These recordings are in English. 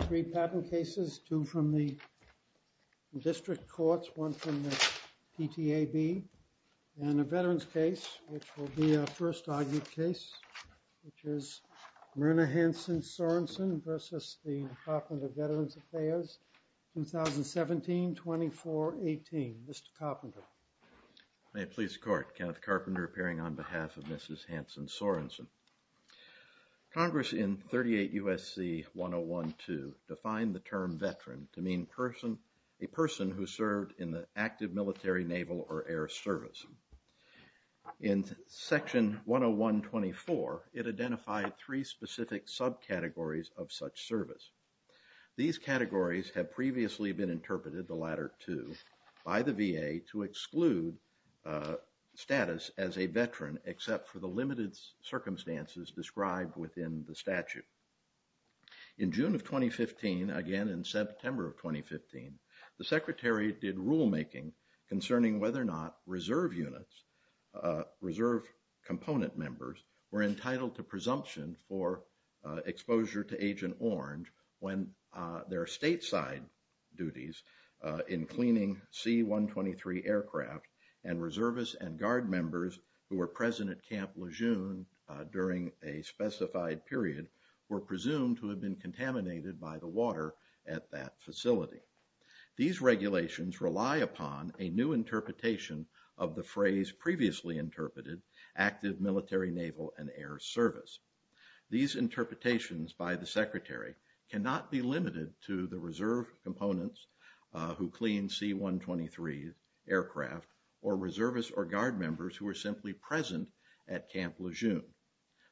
Three patent cases, two from the district courts, one from the PTAB, and a veterans case which will be our first argued case, which is Myrna Hansen-Sorensen versus the Department of Veterans Affairs, 2017-24-18. Mr. Carpenter. May it please the court. Kenneth Carpenter appearing on behalf of Mrs. Hansen-Sorensen. Congress in 38 U.S.C. 101-2 defined the term veteran to mean person, a person who served in the active military, naval, or air service. In section 101-24, it identified three specific subcategories of such service. These categories have previously been interpreted, the latter two, by the VA to exclude status as a statute. In June of 2015, again in September of 2015, the Secretary did rulemaking concerning whether or not reserve units, reserve component members, were entitled to presumption for exposure to Agent Orange when their stateside duties in cleaning C-123 aircraft and reservists and guard during a specified period were presumed to have been contaminated by the water at that facility. These regulations rely upon a new interpretation of the phrase previously interpreted, active military, naval, and air service. These interpretations by the Secretary cannot be limited to the reserve components who clean C-123 aircraft or reservists or guard members who are simply present at Camp Lejeune.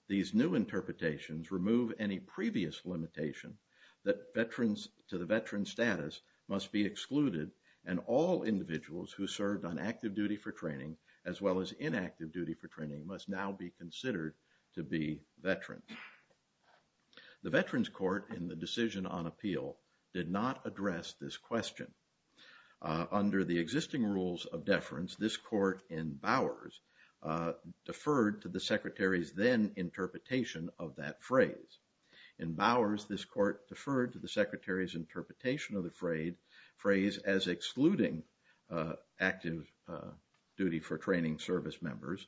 These new interpretations remove any previous limitation that veterans to the veteran status must be excluded and all individuals who served on active duty for training as well as inactive duty for training must now be considered to be veterans. The Veterans Court in the decision on appeal did not address this question. Under the existing rules of deference, this court in Bowers deferred to the Secretary's then interpretation of that phrase. In Bowers, this court deferred to the Secretary's interpretation of the phrase as excluding active duty for training service members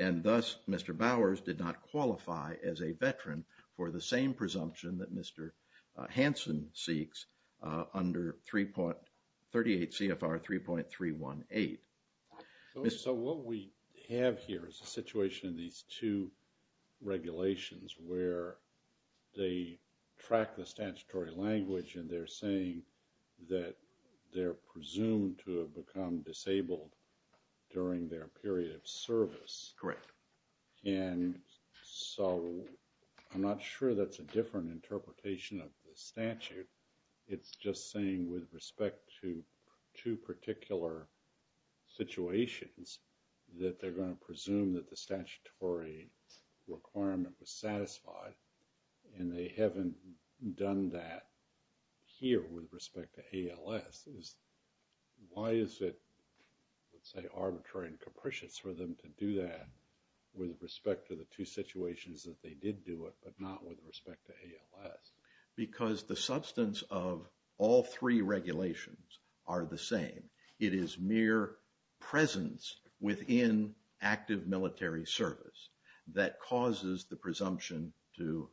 and thus Mr. Bowers did not qualify as a veteran for the same presumption that Mr. Hansen seeks under 38 CFR 3.318. So what we have here is a situation in these two regulations where they track the statutory language and they're saying that they're presumed to have become disabled during their period of service. Correct. And so I'm not sure that's a different interpretation of the statute. It's just saying with respect to two particular situations that they're going to presume that the statutory requirement was satisfied and they haven't done that here with respect to ALS. Why is it, let's say, arbitrary and capricious for them to do that with respect to the two situations that they did do it but not with respect to ALS? Because the substance of all three regulations are the same. It is mere presence within active military service that causes the presumption to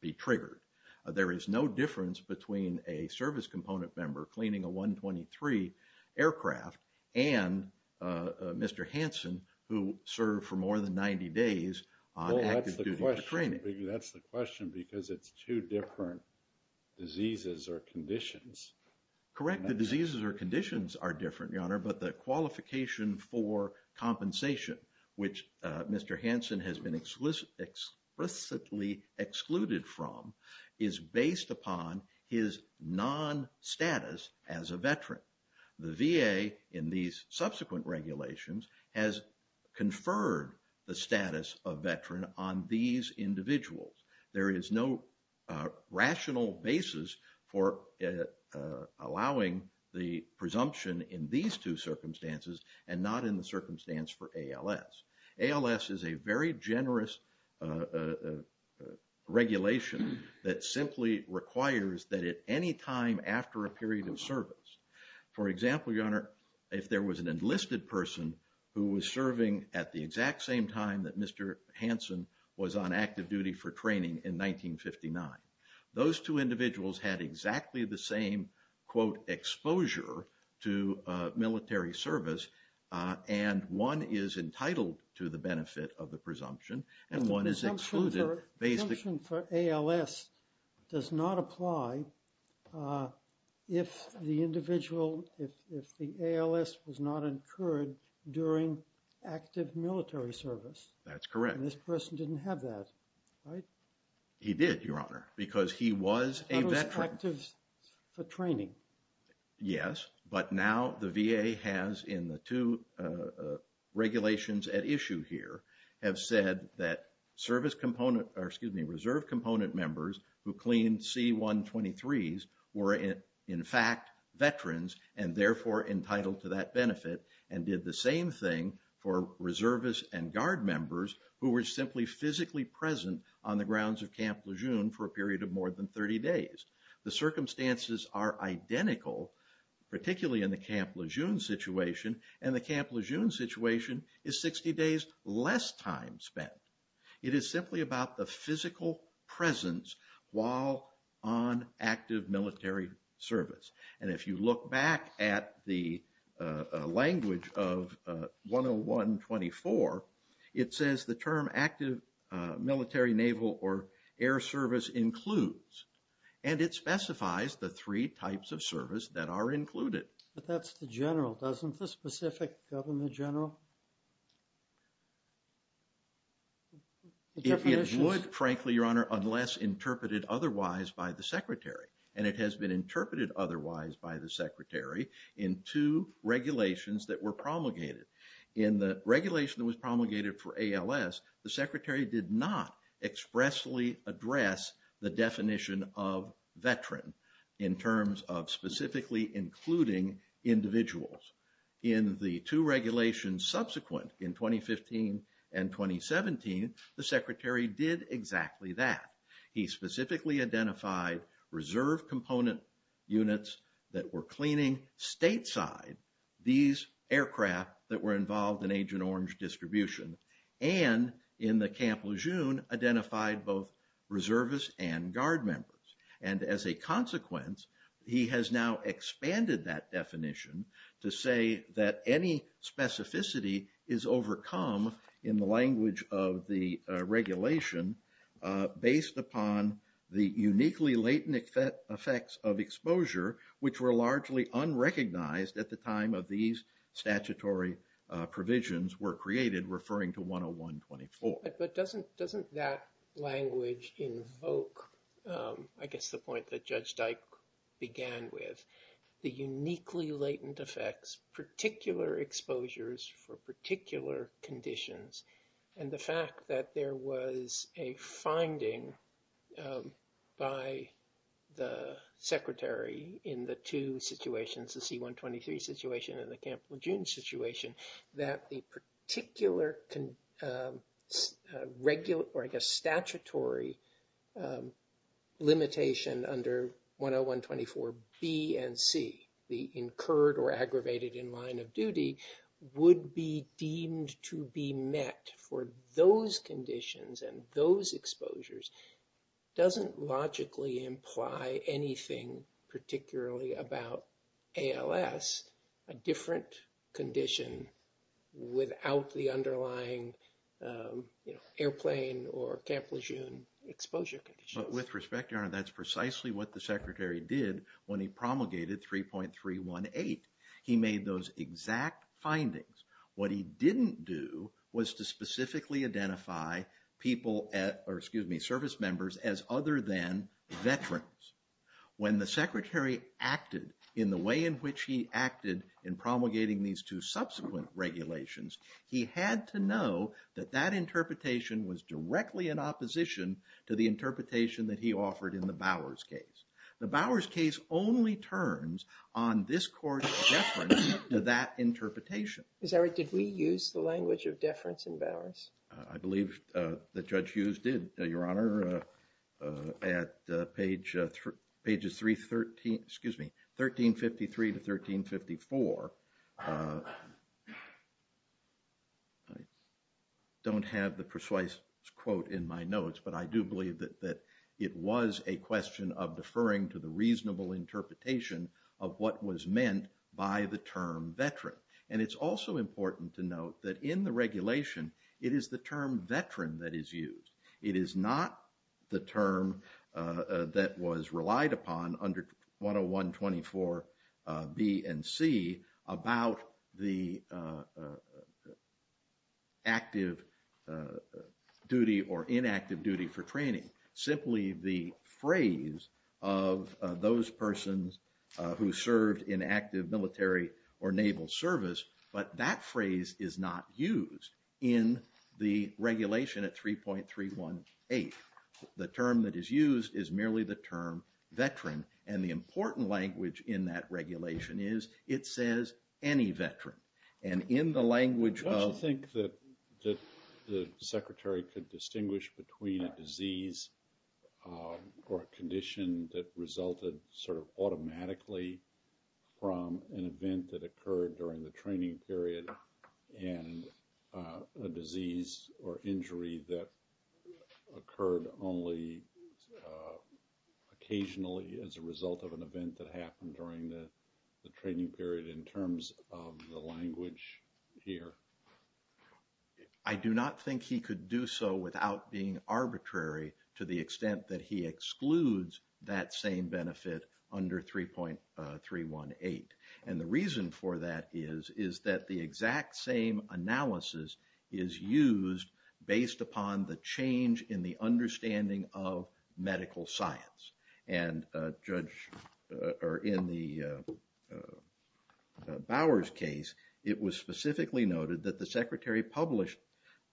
be triggered. There is no difference between a service component member cleaning a Mr. Hansen who served for more than 90 days on active duty training. That's the question because it's two different diseases or conditions. Correct. The diseases or conditions are different, Your Honor, but the qualification for compensation which Mr. Hansen has been explicitly excluded from is based upon his non-status as a veteran. The VA in these subsequent regulations has conferred the status of veteran on these individuals. There is no rational basis for allowing the presumption in these two circumstances and not in the circumstance for ALS. ALS is a very generous regulation that simply requires that at any time after a period of service, there is an enlisted person who was serving at the exact same time that Mr. Hansen was on active duty for training in 1959. Those two individuals had exactly the same, quote, exposure to military service and one is entitled to the benefit of the presumption and one is excluded. The presumption for ALS does not apply if the individual, if the ALS was not incurred during active military service. That's correct. This person didn't have that, right? He did, Your Honor, because he was a veteran. He was active for training. Yes, but now the VA has in the two regulations at issue here have said that service component, or excuse me, reserve component members who cleaned C-123s were in fact veterans and therefore entitled to that benefit and did the same thing for reservists and guard members who were simply physically present on the grounds of Camp Lejeune for a period of more than 30 days. The circumstances are identical, particularly in the Camp Lejeune situation and the Camp Lejeune situation is 60 days less time spent. It is simply about the physical presence while on active military service and if you look back at the language of 101-24, it says the term active military, naval, or air service includes and it specifies the three types of service that are included. But that's the general, doesn't the specific Governor General? If it would, frankly, Your Honor, unless interpreted otherwise by the and it has been interpreted otherwise by the Secretary in two regulations that were promulgated. In the regulation that was promulgated for ALS, the Secretary did not expressly address the definition of veteran in terms of specifically including individuals. In the two regulations subsequent in 2015 and 2017, the Secretary did exactly that. He specifically identified reserve component units that were cleaning stateside these aircraft that were involved in Agent Orange distribution and in the Camp Lejeune identified both reservists and guard members. And as a consequence, he has now expanded that definition to say that any specificity is overcome in the language of the regulation based upon the uniquely latent effects of exposure which were largely unrecognized at the time of these statutory provisions were created referring to 101-24. But doesn't doesn't that language invoke, I guess the point that Judge Dyke began with, the particular exposures for particular conditions and the fact that there was a finding by the Secretary in the two situations, the C-123 situation and the Camp Lejeune situation, that the particular regular or I guess statutory limitation under 101-24 B and C, the incurred or aggravated in line of duty, would be deemed to be met for those conditions and those exposures, doesn't logically imply anything particularly about ALS, a different condition without the underlying airplane or Camp Lejeune exposure. But with respect, Your Honor, that's precisely what the Secretary did when he promulgated 3.318. He made those exact findings. What he didn't do was to specifically identify people at, or excuse me, service members as other than veterans. When the Secretary acted in the he had to know that that interpretation was directly in opposition to the interpretation that he offered in the Bowers case. The Bowers case only turns on this Court's deference to that interpretation. Is that right? Did we use the language of deference in Bowers? I believe that Judge Hughes did, Your Honor. At page 313, excuse me, 1353 to 1354, I don't have the precise quote in my notes, but I do believe that it was a question of deferring to the reasonable interpretation of what was meant by the term veteran. And it's also important to note that in the regulation, it is the term veteran that is used. It is not the term that was relied upon under 101-24 B and C about the active duty or inactive duty for training. Simply the phrase of those persons who served in active military or naval service, but that phrase is not used in the regulation at 3.318. The term that is used is merely the term veteran. And the important language in that regulation is it says any veteran. And in the language of... I don't think that the Secretary could distinguish between a disease or a condition that resulted sort of automatically from an event that occurred during the training period and a disease or injury that occurred only occasionally as a result of an event that happened during the training period in terms of the language here. I do not think he could do so without being arbitrary to the extent that he excludes that same benefit under 3.318. And the reason for that is that the exact same analysis is used based upon the change in the understanding of medical science. And in the Bowers case, it was specifically noted that the Secretary published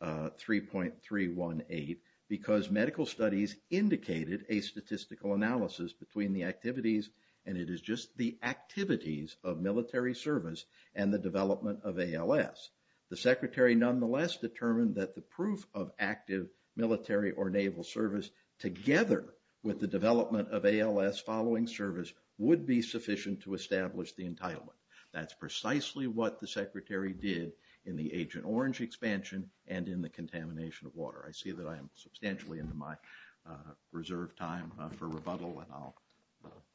3.318 because medical studies indicated a statistical analysis between the activities and it is just the activities of military service and the development of ALS. The Secretary nonetheless determined that the proof of active military or naval service together with the development of ALS following service would be sufficient to establish the entitlement. That's precisely what the Secretary did in the Agent Orange expansion and in the contamination of water. I see that I am substantially into my reserve time for rebuttal and I'll...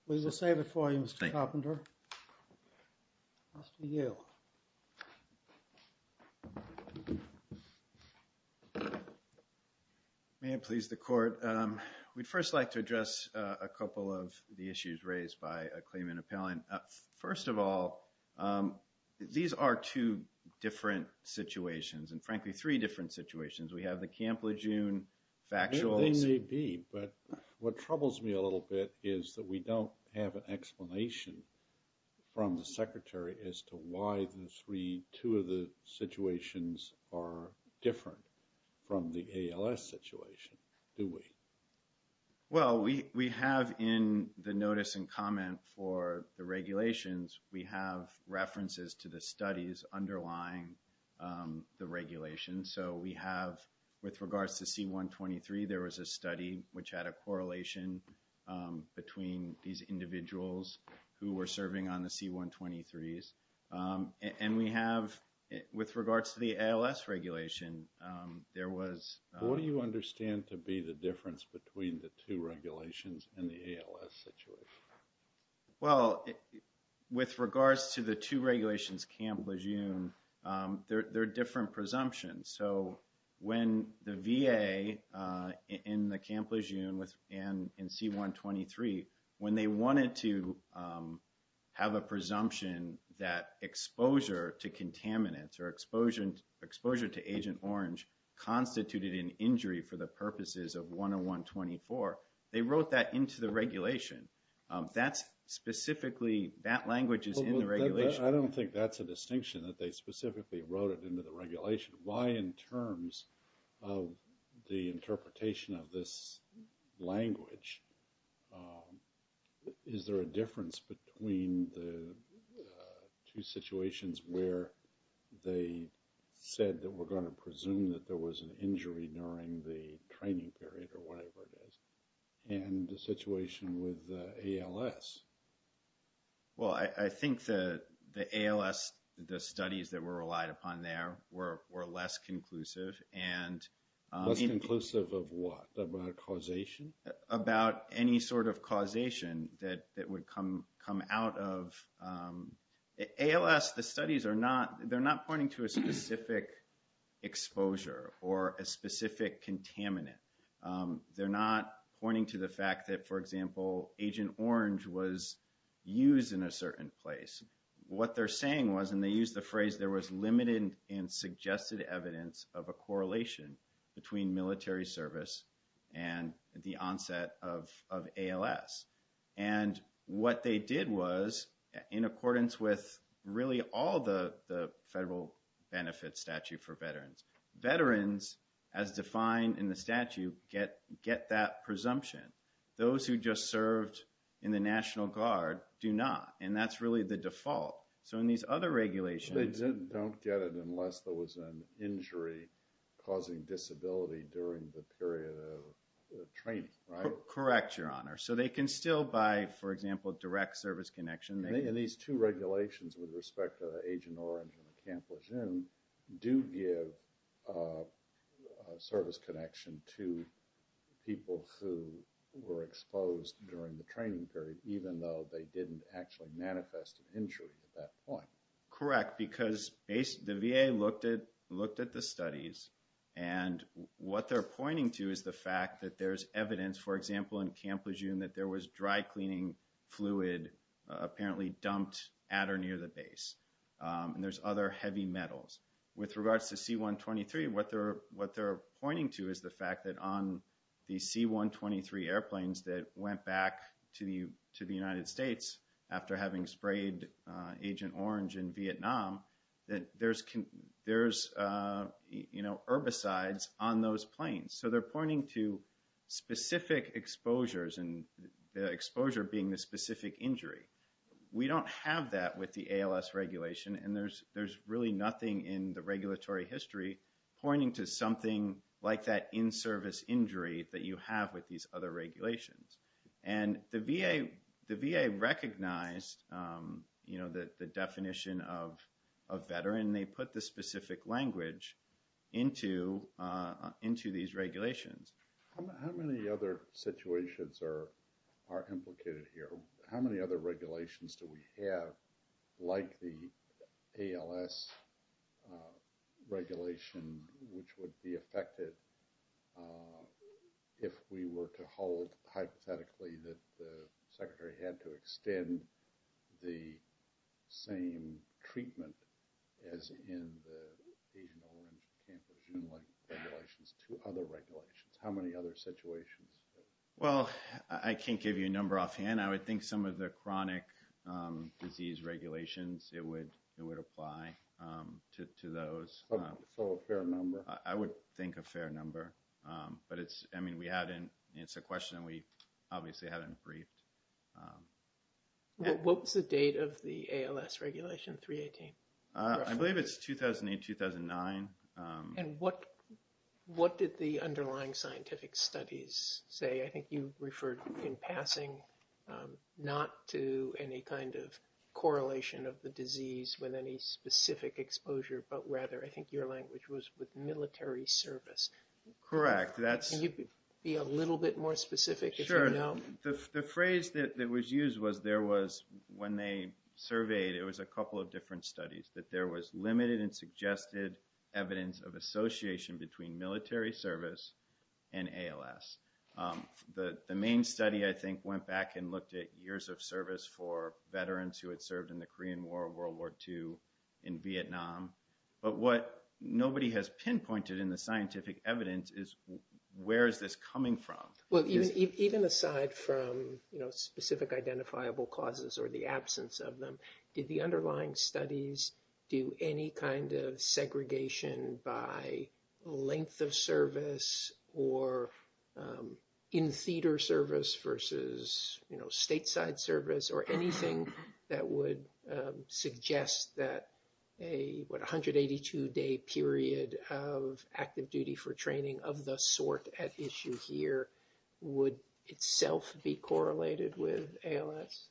We will save it for you Mr. Carpenter. Mr. Yale. May it please the court. We'd first like to address a couple of the issues raised by a claimant appellant. First of all, these are two different situations and frankly three different situations. We have the Camp Lejeune factual... They may be, but what troubles me a little bit is that we don't have an explanation from the Secretary as to why the three, two of the situations are different from the ALS situation, do we? Well, we have in the notice and comment for the regulations, we have references to the studies underlying the regulation. So we have, with regards to C-123, there was a study which had a correlation between these individuals who were serving on the C-123s. And we have, with regards to the ALS regulation, there was... What do you understand to be the difference between the two regulations and the ALS situation? Well, with regards to the two regulations Camp Lejeune, there are different presumptions. So when the VA in the Camp Lejeune and in C-123, when they wanted to have a presumption that exposure to contaminants or exposure to Agent Orange constituted an injury for the purposes of 101-24, they wrote that into the regulation. That's specifically, that language is in the regulation. I don't think that's a distinction that they specifically wrote it into the regulation. Why in terms of the interpretation of this language, is there a difference between the two situations where they said that we're going to presume that there was an injury during the training period or whatever it is, and the situation with ALS? Well, I think that the ALS, the studies that were relied upon there, were less conclusive and... Less conclusive of what? About causation? About any sort of causation that would come out of... ALS, the studies are not, they're not pointing to a specific exposure or a specific contaminant. They're not pointing to the fact that, for example, Agent Orange was used in a certain place. What they're saying was, and they used the phrase, there was limited and suggested evidence of a correlation between military service and the onset of ALS. And what they did was, in accordance with really all the regulations, you get that presumption. Those who just served in the National Guard do not, and that's really the default. So in these other regulations... They don't get it unless there was an injury causing disability during the period of training, right? Correct, Your Honor. So they can still buy, for example, direct service connection. And these two regulations with respect to Agent Orange, they're not pointing to people who were exposed during the training period, even though they didn't actually manifest an injury at that point. Correct, because the VA looked at the studies and what they're pointing to is the fact that there's evidence, for example, in Camp Lejeune, that there was dry cleaning fluid apparently dumped at or near the base. And there's other heavy metals. With regards to C-123, what they're pointing to is the fact that on the C-123 airplanes that went back to the United States after having sprayed Agent Orange in Vietnam, that there's herbicides on those planes. So they're pointing to specific exposures, and the exposure being the specific injury. We don't have that with the ALS regulation, and there's really nothing in the regulatory history pointing to something like that in-service injury that you have with these other regulations. And the VA recognized the definition of a veteran. They put the specific language into these regulations. How many other situations are implicated here? How many other regulations do we have like the ALS regulation, which would be affected if we were to hold, hypothetically, that the Secretary had to extend the same treatment as in the Agent Orange, Camp Lejeune-like regulations to other regulations? How many other situations? Well, I can't give you a number offhand. I would think some of the chronic disease regulations, it would apply to those. So a fair number? I would think a fair number, but it's, I mean, we hadn't, it's a question we obviously hadn't briefed. What was the date of the ALS regulation, 318? I believe it's 2008-2009. And what did the underlying scientific studies say? I think you referred in passing not to any kind of correlation of the disease with any specific exposure, but rather, I think your language was with military service. Correct. Can you be a little bit more specific? Sure. The phrase that was used was there was, when they surveyed, it was a couple of different studies, that there was limited and suggested evidence of association between military service and ALS. The main study, I think, went back and looked at years of service for veterans who had served in the Korean War, World War II, in Vietnam. But what nobody has pinpointed in the scientific evidence is, where is this coming from? Well, even aside from, you know, specific identifiable causes or the absence of them, did the underlying service versus, you know, stateside service or anything that would suggest that a 182-day period of active duty for training of the sort at issue here would itself be correlated with ALS?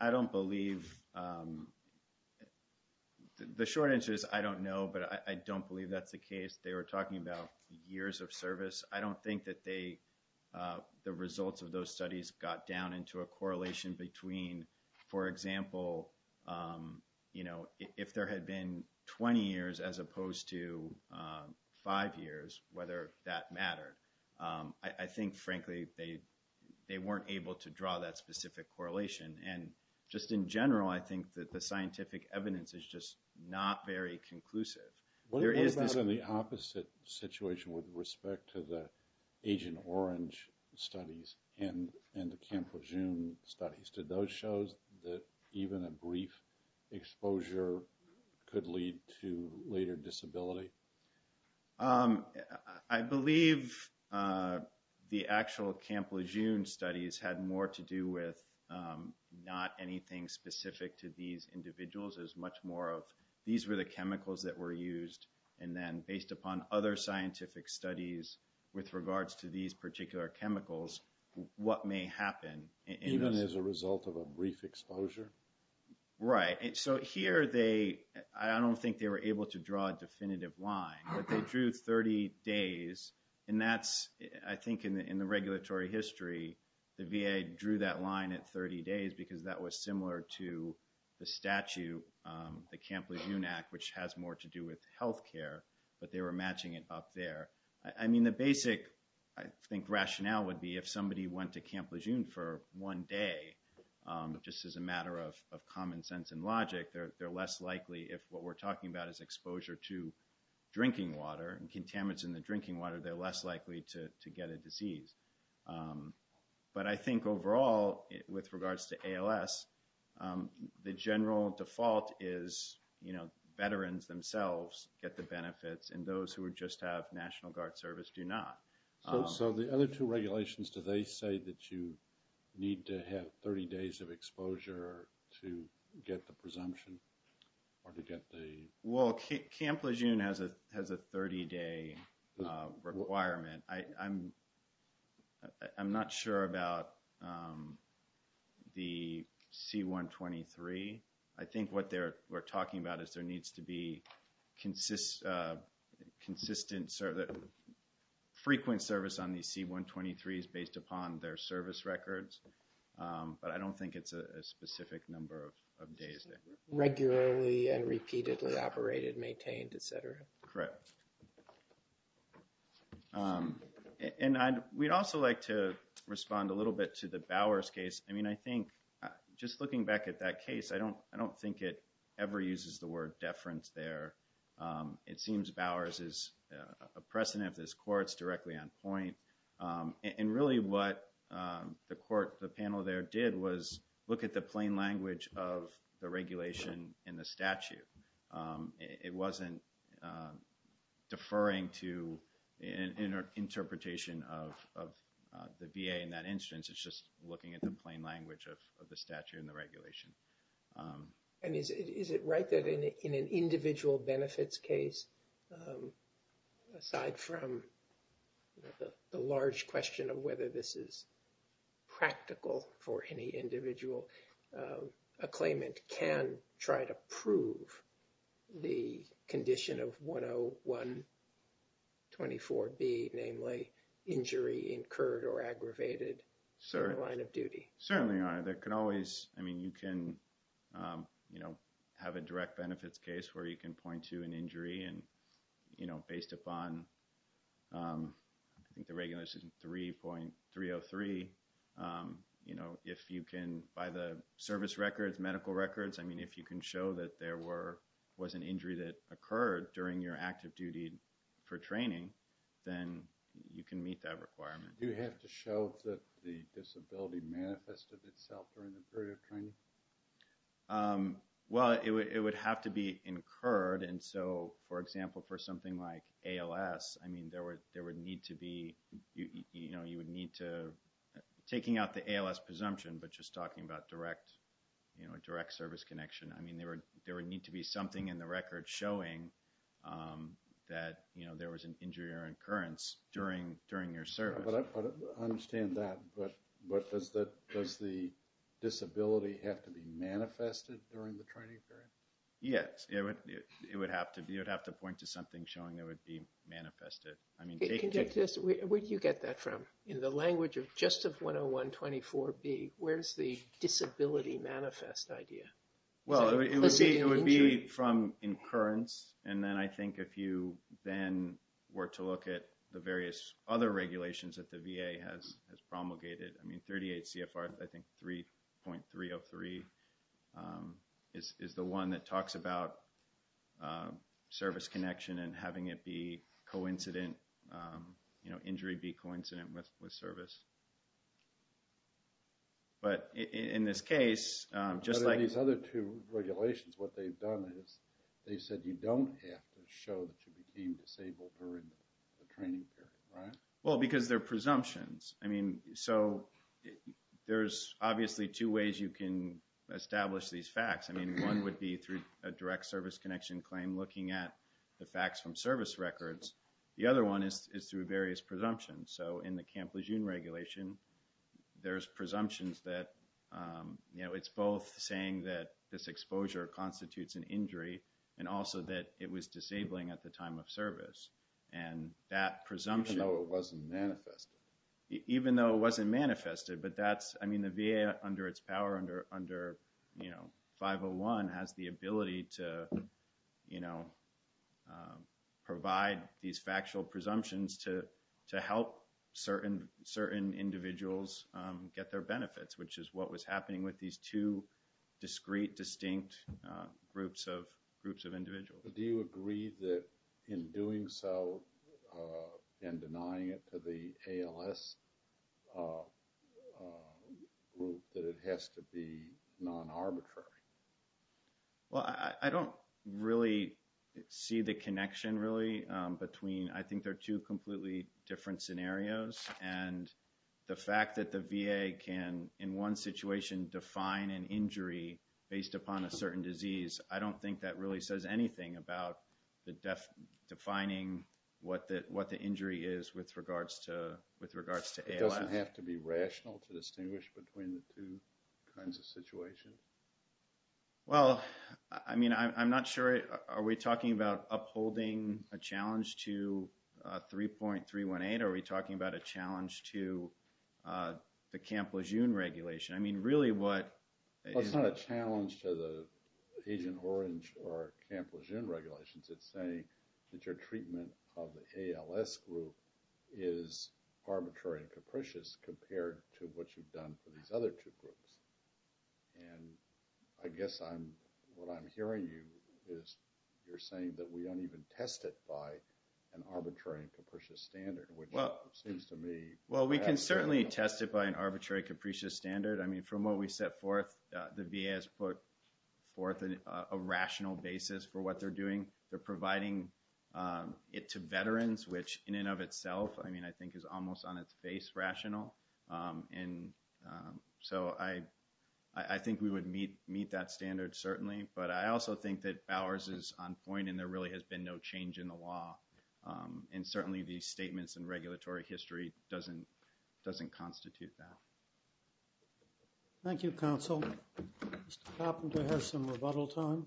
I don't believe, the short answer is I don't know, but I don't believe that's the case. They were talking about years of service. I don't think that the results of those studies got down into a correlation between, for example, you know, if there had been 20 years as opposed to five years, whether that mattered. I think, frankly, they weren't able to draw that specific correlation. And just in general, I think that the scientific evidence is just not very conclusive. What about in the opposite situation with respect to the Agent Orange studies and the Camp Lejeune studies? Did those show that even a brief exposure could lead to later disability? I believe the actual Camp Lejeune studies had more to do with not anything specific to these individuals. There's much more of, these were the chemicals that were used and then based upon other scientific studies with regards to these particular chemicals, what may happen. Even as a result of a brief exposure? Right. So here they, I don't think they were able to draw a definitive line, but they drew 30 days and that's, I think in the regulatory history, the VA drew that line at 30 days because that was similar to the statute, the Camp Lejeune Act, which has more to do with health care, but they were matching it up there. I mean, the basic, I think, rationale would be if somebody went to Camp Lejeune for one day, just as a matter of common sense and logic, they're less likely, if what we're talking about is exposure to drinking water and contaminants in the drinking water, they're less likely to get a disease. But I think overall, with regards to ALS, the general default is, you know, veterans themselves get the benefits and those who would just have National Guard service do not. So the other two regulations, do they say that you need to have 30 days of exposure to get the presumption or to get the... Well, Camp Lejeune has a 30-day requirement. I'm not sure about the C-123. I think what they're talking about is there needs to be consistent service, frequent service on these C-123s based upon their service records, but I don't think it's a specific number of days. Regularly and repeatedly operated, maintained, etc. Correct. And we'd also like to respond a little bit to the Bowers case. I mean, I think just looking back at that case, I don't think it ever uses the word deference there. It seems Bowers is a precedent of this court's directly on point. And really what the panel there did was look at the plain language of the regulation in the statute. It wasn't deferring to an interpretation of the VA in that instance. It's just looking at the plain language of the statute and the regulation. And is it right that in an individual benefits case, aside from the large question of whether this is practical for any individual, a claimant can try to prove the condition of 10124B, namely injury incurred or aggravated in the line of duty? Certainly, Your Honor. There can always... I mean, you can have a direct benefits case where you can point to an injury and, you know, based upon I think the regulation 3.303, you know, if you can, by the service records, medical records, I mean, if you can show that there was an injury that occurred during your active duty for training, then you can meet that requirement. You have to show that the disability manifested itself during the period of training? Well, it would have to be incurred. And so for example, for something like ALS, I mean, there would need to be, you know, you would need to... taking out the ALS presumption, but just talking about direct, you know, a direct service connection. I mean, there would need to be something in the record showing that, you know, there was an injury or incurrence during your service. I understand that, but does the disability have to be manifested during the training period? Yes, it would have to be. You'd have to point to something showing that would be manifested. I mean, where do you get that from? In the language of just of 10124B, where's the disability manifest idea? Well, it would be from incurrence, and then I think if you then were to look at the various other regulations that the VA has promulgated, I mean, 38 CFR, I think 3.303 is the one that talks about service connection and having it be coincident, you know, injury be coincident with service. But in this case, just like... But in these other two regulations, what they've done is they said you don't have to show that you became disabled during the training period, right? Well, because they're presumptions. I mean, so there's obviously two ways you can establish these facts. I mean, one would be through a direct service connection claim looking at the facts from service records. The other one is through various presumptions. So, in the Camp Lejeune regulation, there's presumptions that, you know, it's both saying that this exposure constitutes an injury and also that it was disabling at the time of service. And that presumption... Even though it wasn't manifested. Even though it wasn't manifested, but that's, I mean, the VA under its power under, you know, Section 1 has the ability to, you know, provide these factual presumptions to help certain individuals get their benefits, which is what was happening with these two discrete, distinct groups of individuals. Do you agree that in doing so and denying it to the ALS group that it has to be non-arbitrary? Well, I don't really see the connection, really, between... I think they're two completely different scenarios. And the fact that the VA can, in one situation, define an injury based upon a certain disease, I don't think that really says anything about defining what the injury is with regards to ALS. It doesn't have to be rational to distinguish between the two kinds of situations. Well, I mean, I'm not sure... Are we talking about upholding a challenge to 3.318? Are we talking about a challenge to the Camp Lejeune regulation? I mean, really what... It's not a challenge to the Agent Orange or Camp Lejeune regulations. It's saying that your treatment of the ALS group is arbitrary and capricious compared to what you've done for these other two groups. And I guess what I'm hearing you is you're saying that we don't even test it by an arbitrary and capricious standard, which seems to me... Well, we can certainly test it by an arbitrary, capricious standard. I mean, from what we set forth, the VA has put forth a rational basis for what they're doing. They're providing it to veterans, which in and of itself, I mean, I think is almost on its face rational. And so I think we would meet that standard certainly, but I also think that Bowers is on point and there really has been no change in the law. And certainly these statements in regulatory history doesn't constitute that. Thank you, counsel. Mr. Popham, do we have some rebuttal time?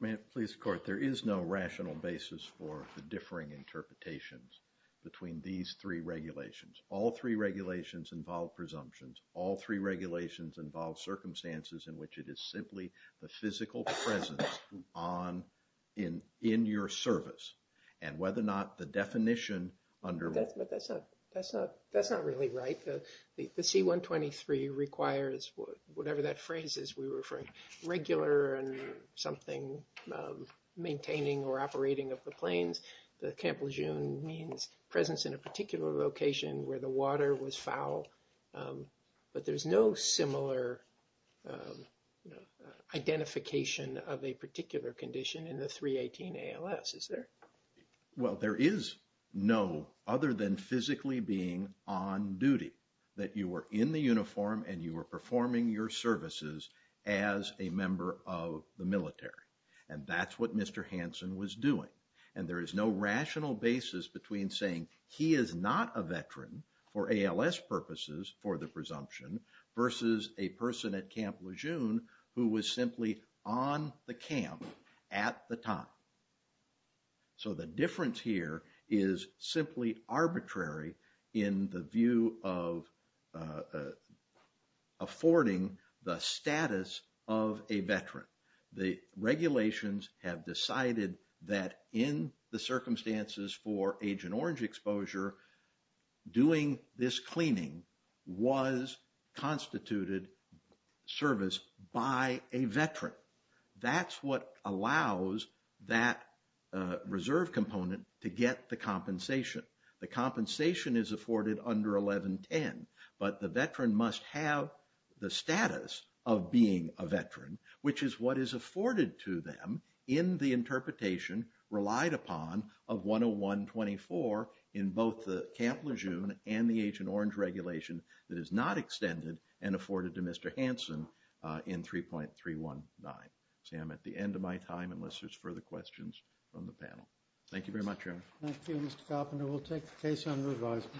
Ma'am, please, court. There is no rational basis for the differing interpretations between these three regulations. All three regulations involve presumptions. All three regulations involve circumstances in which it is simply the physical presence in your service and whether or not the definition under... But that's not really right. The C-123 requires, whatever that phrase is, we were referring to regular and something maintaining or operating of the planes. The Camp Lejeune means presence in a particular location where the water was foul, but there's no similar identification of a particular condition in the 318 ALS, is there? Well, there is no other than physically being on duty, that you were in the uniform and you were performing your services as a member of the military. And that's what Mr. Hansen was doing. And there is no rational basis between saying he is not a veteran for ALS purposes for the presumption versus a person at Camp Lejeune who was simply on the camp at the time. So the difference here is simply arbitrary in the view of affording the status of a veteran. The regulations have decided that in the circumstances for Agent Orange exposure, doing this cleaning was constituted service by a veteran. That's what allows that reserve component to get the compensation. The compensation is afforded under 1110, but the veteran must have the status of being a veteran, which is what is afforded to them in the interpretation relied upon of 10124 in both the Camp Lejeune and the Agent Orange regulation that is not extended and afforded to Mr. Hansen in 3.319. See, I'm at the end of my time unless there's further questions from the panel. Thank you very much, Eric. Thank you, Mr. Carpenter. We'll take the case under advisement.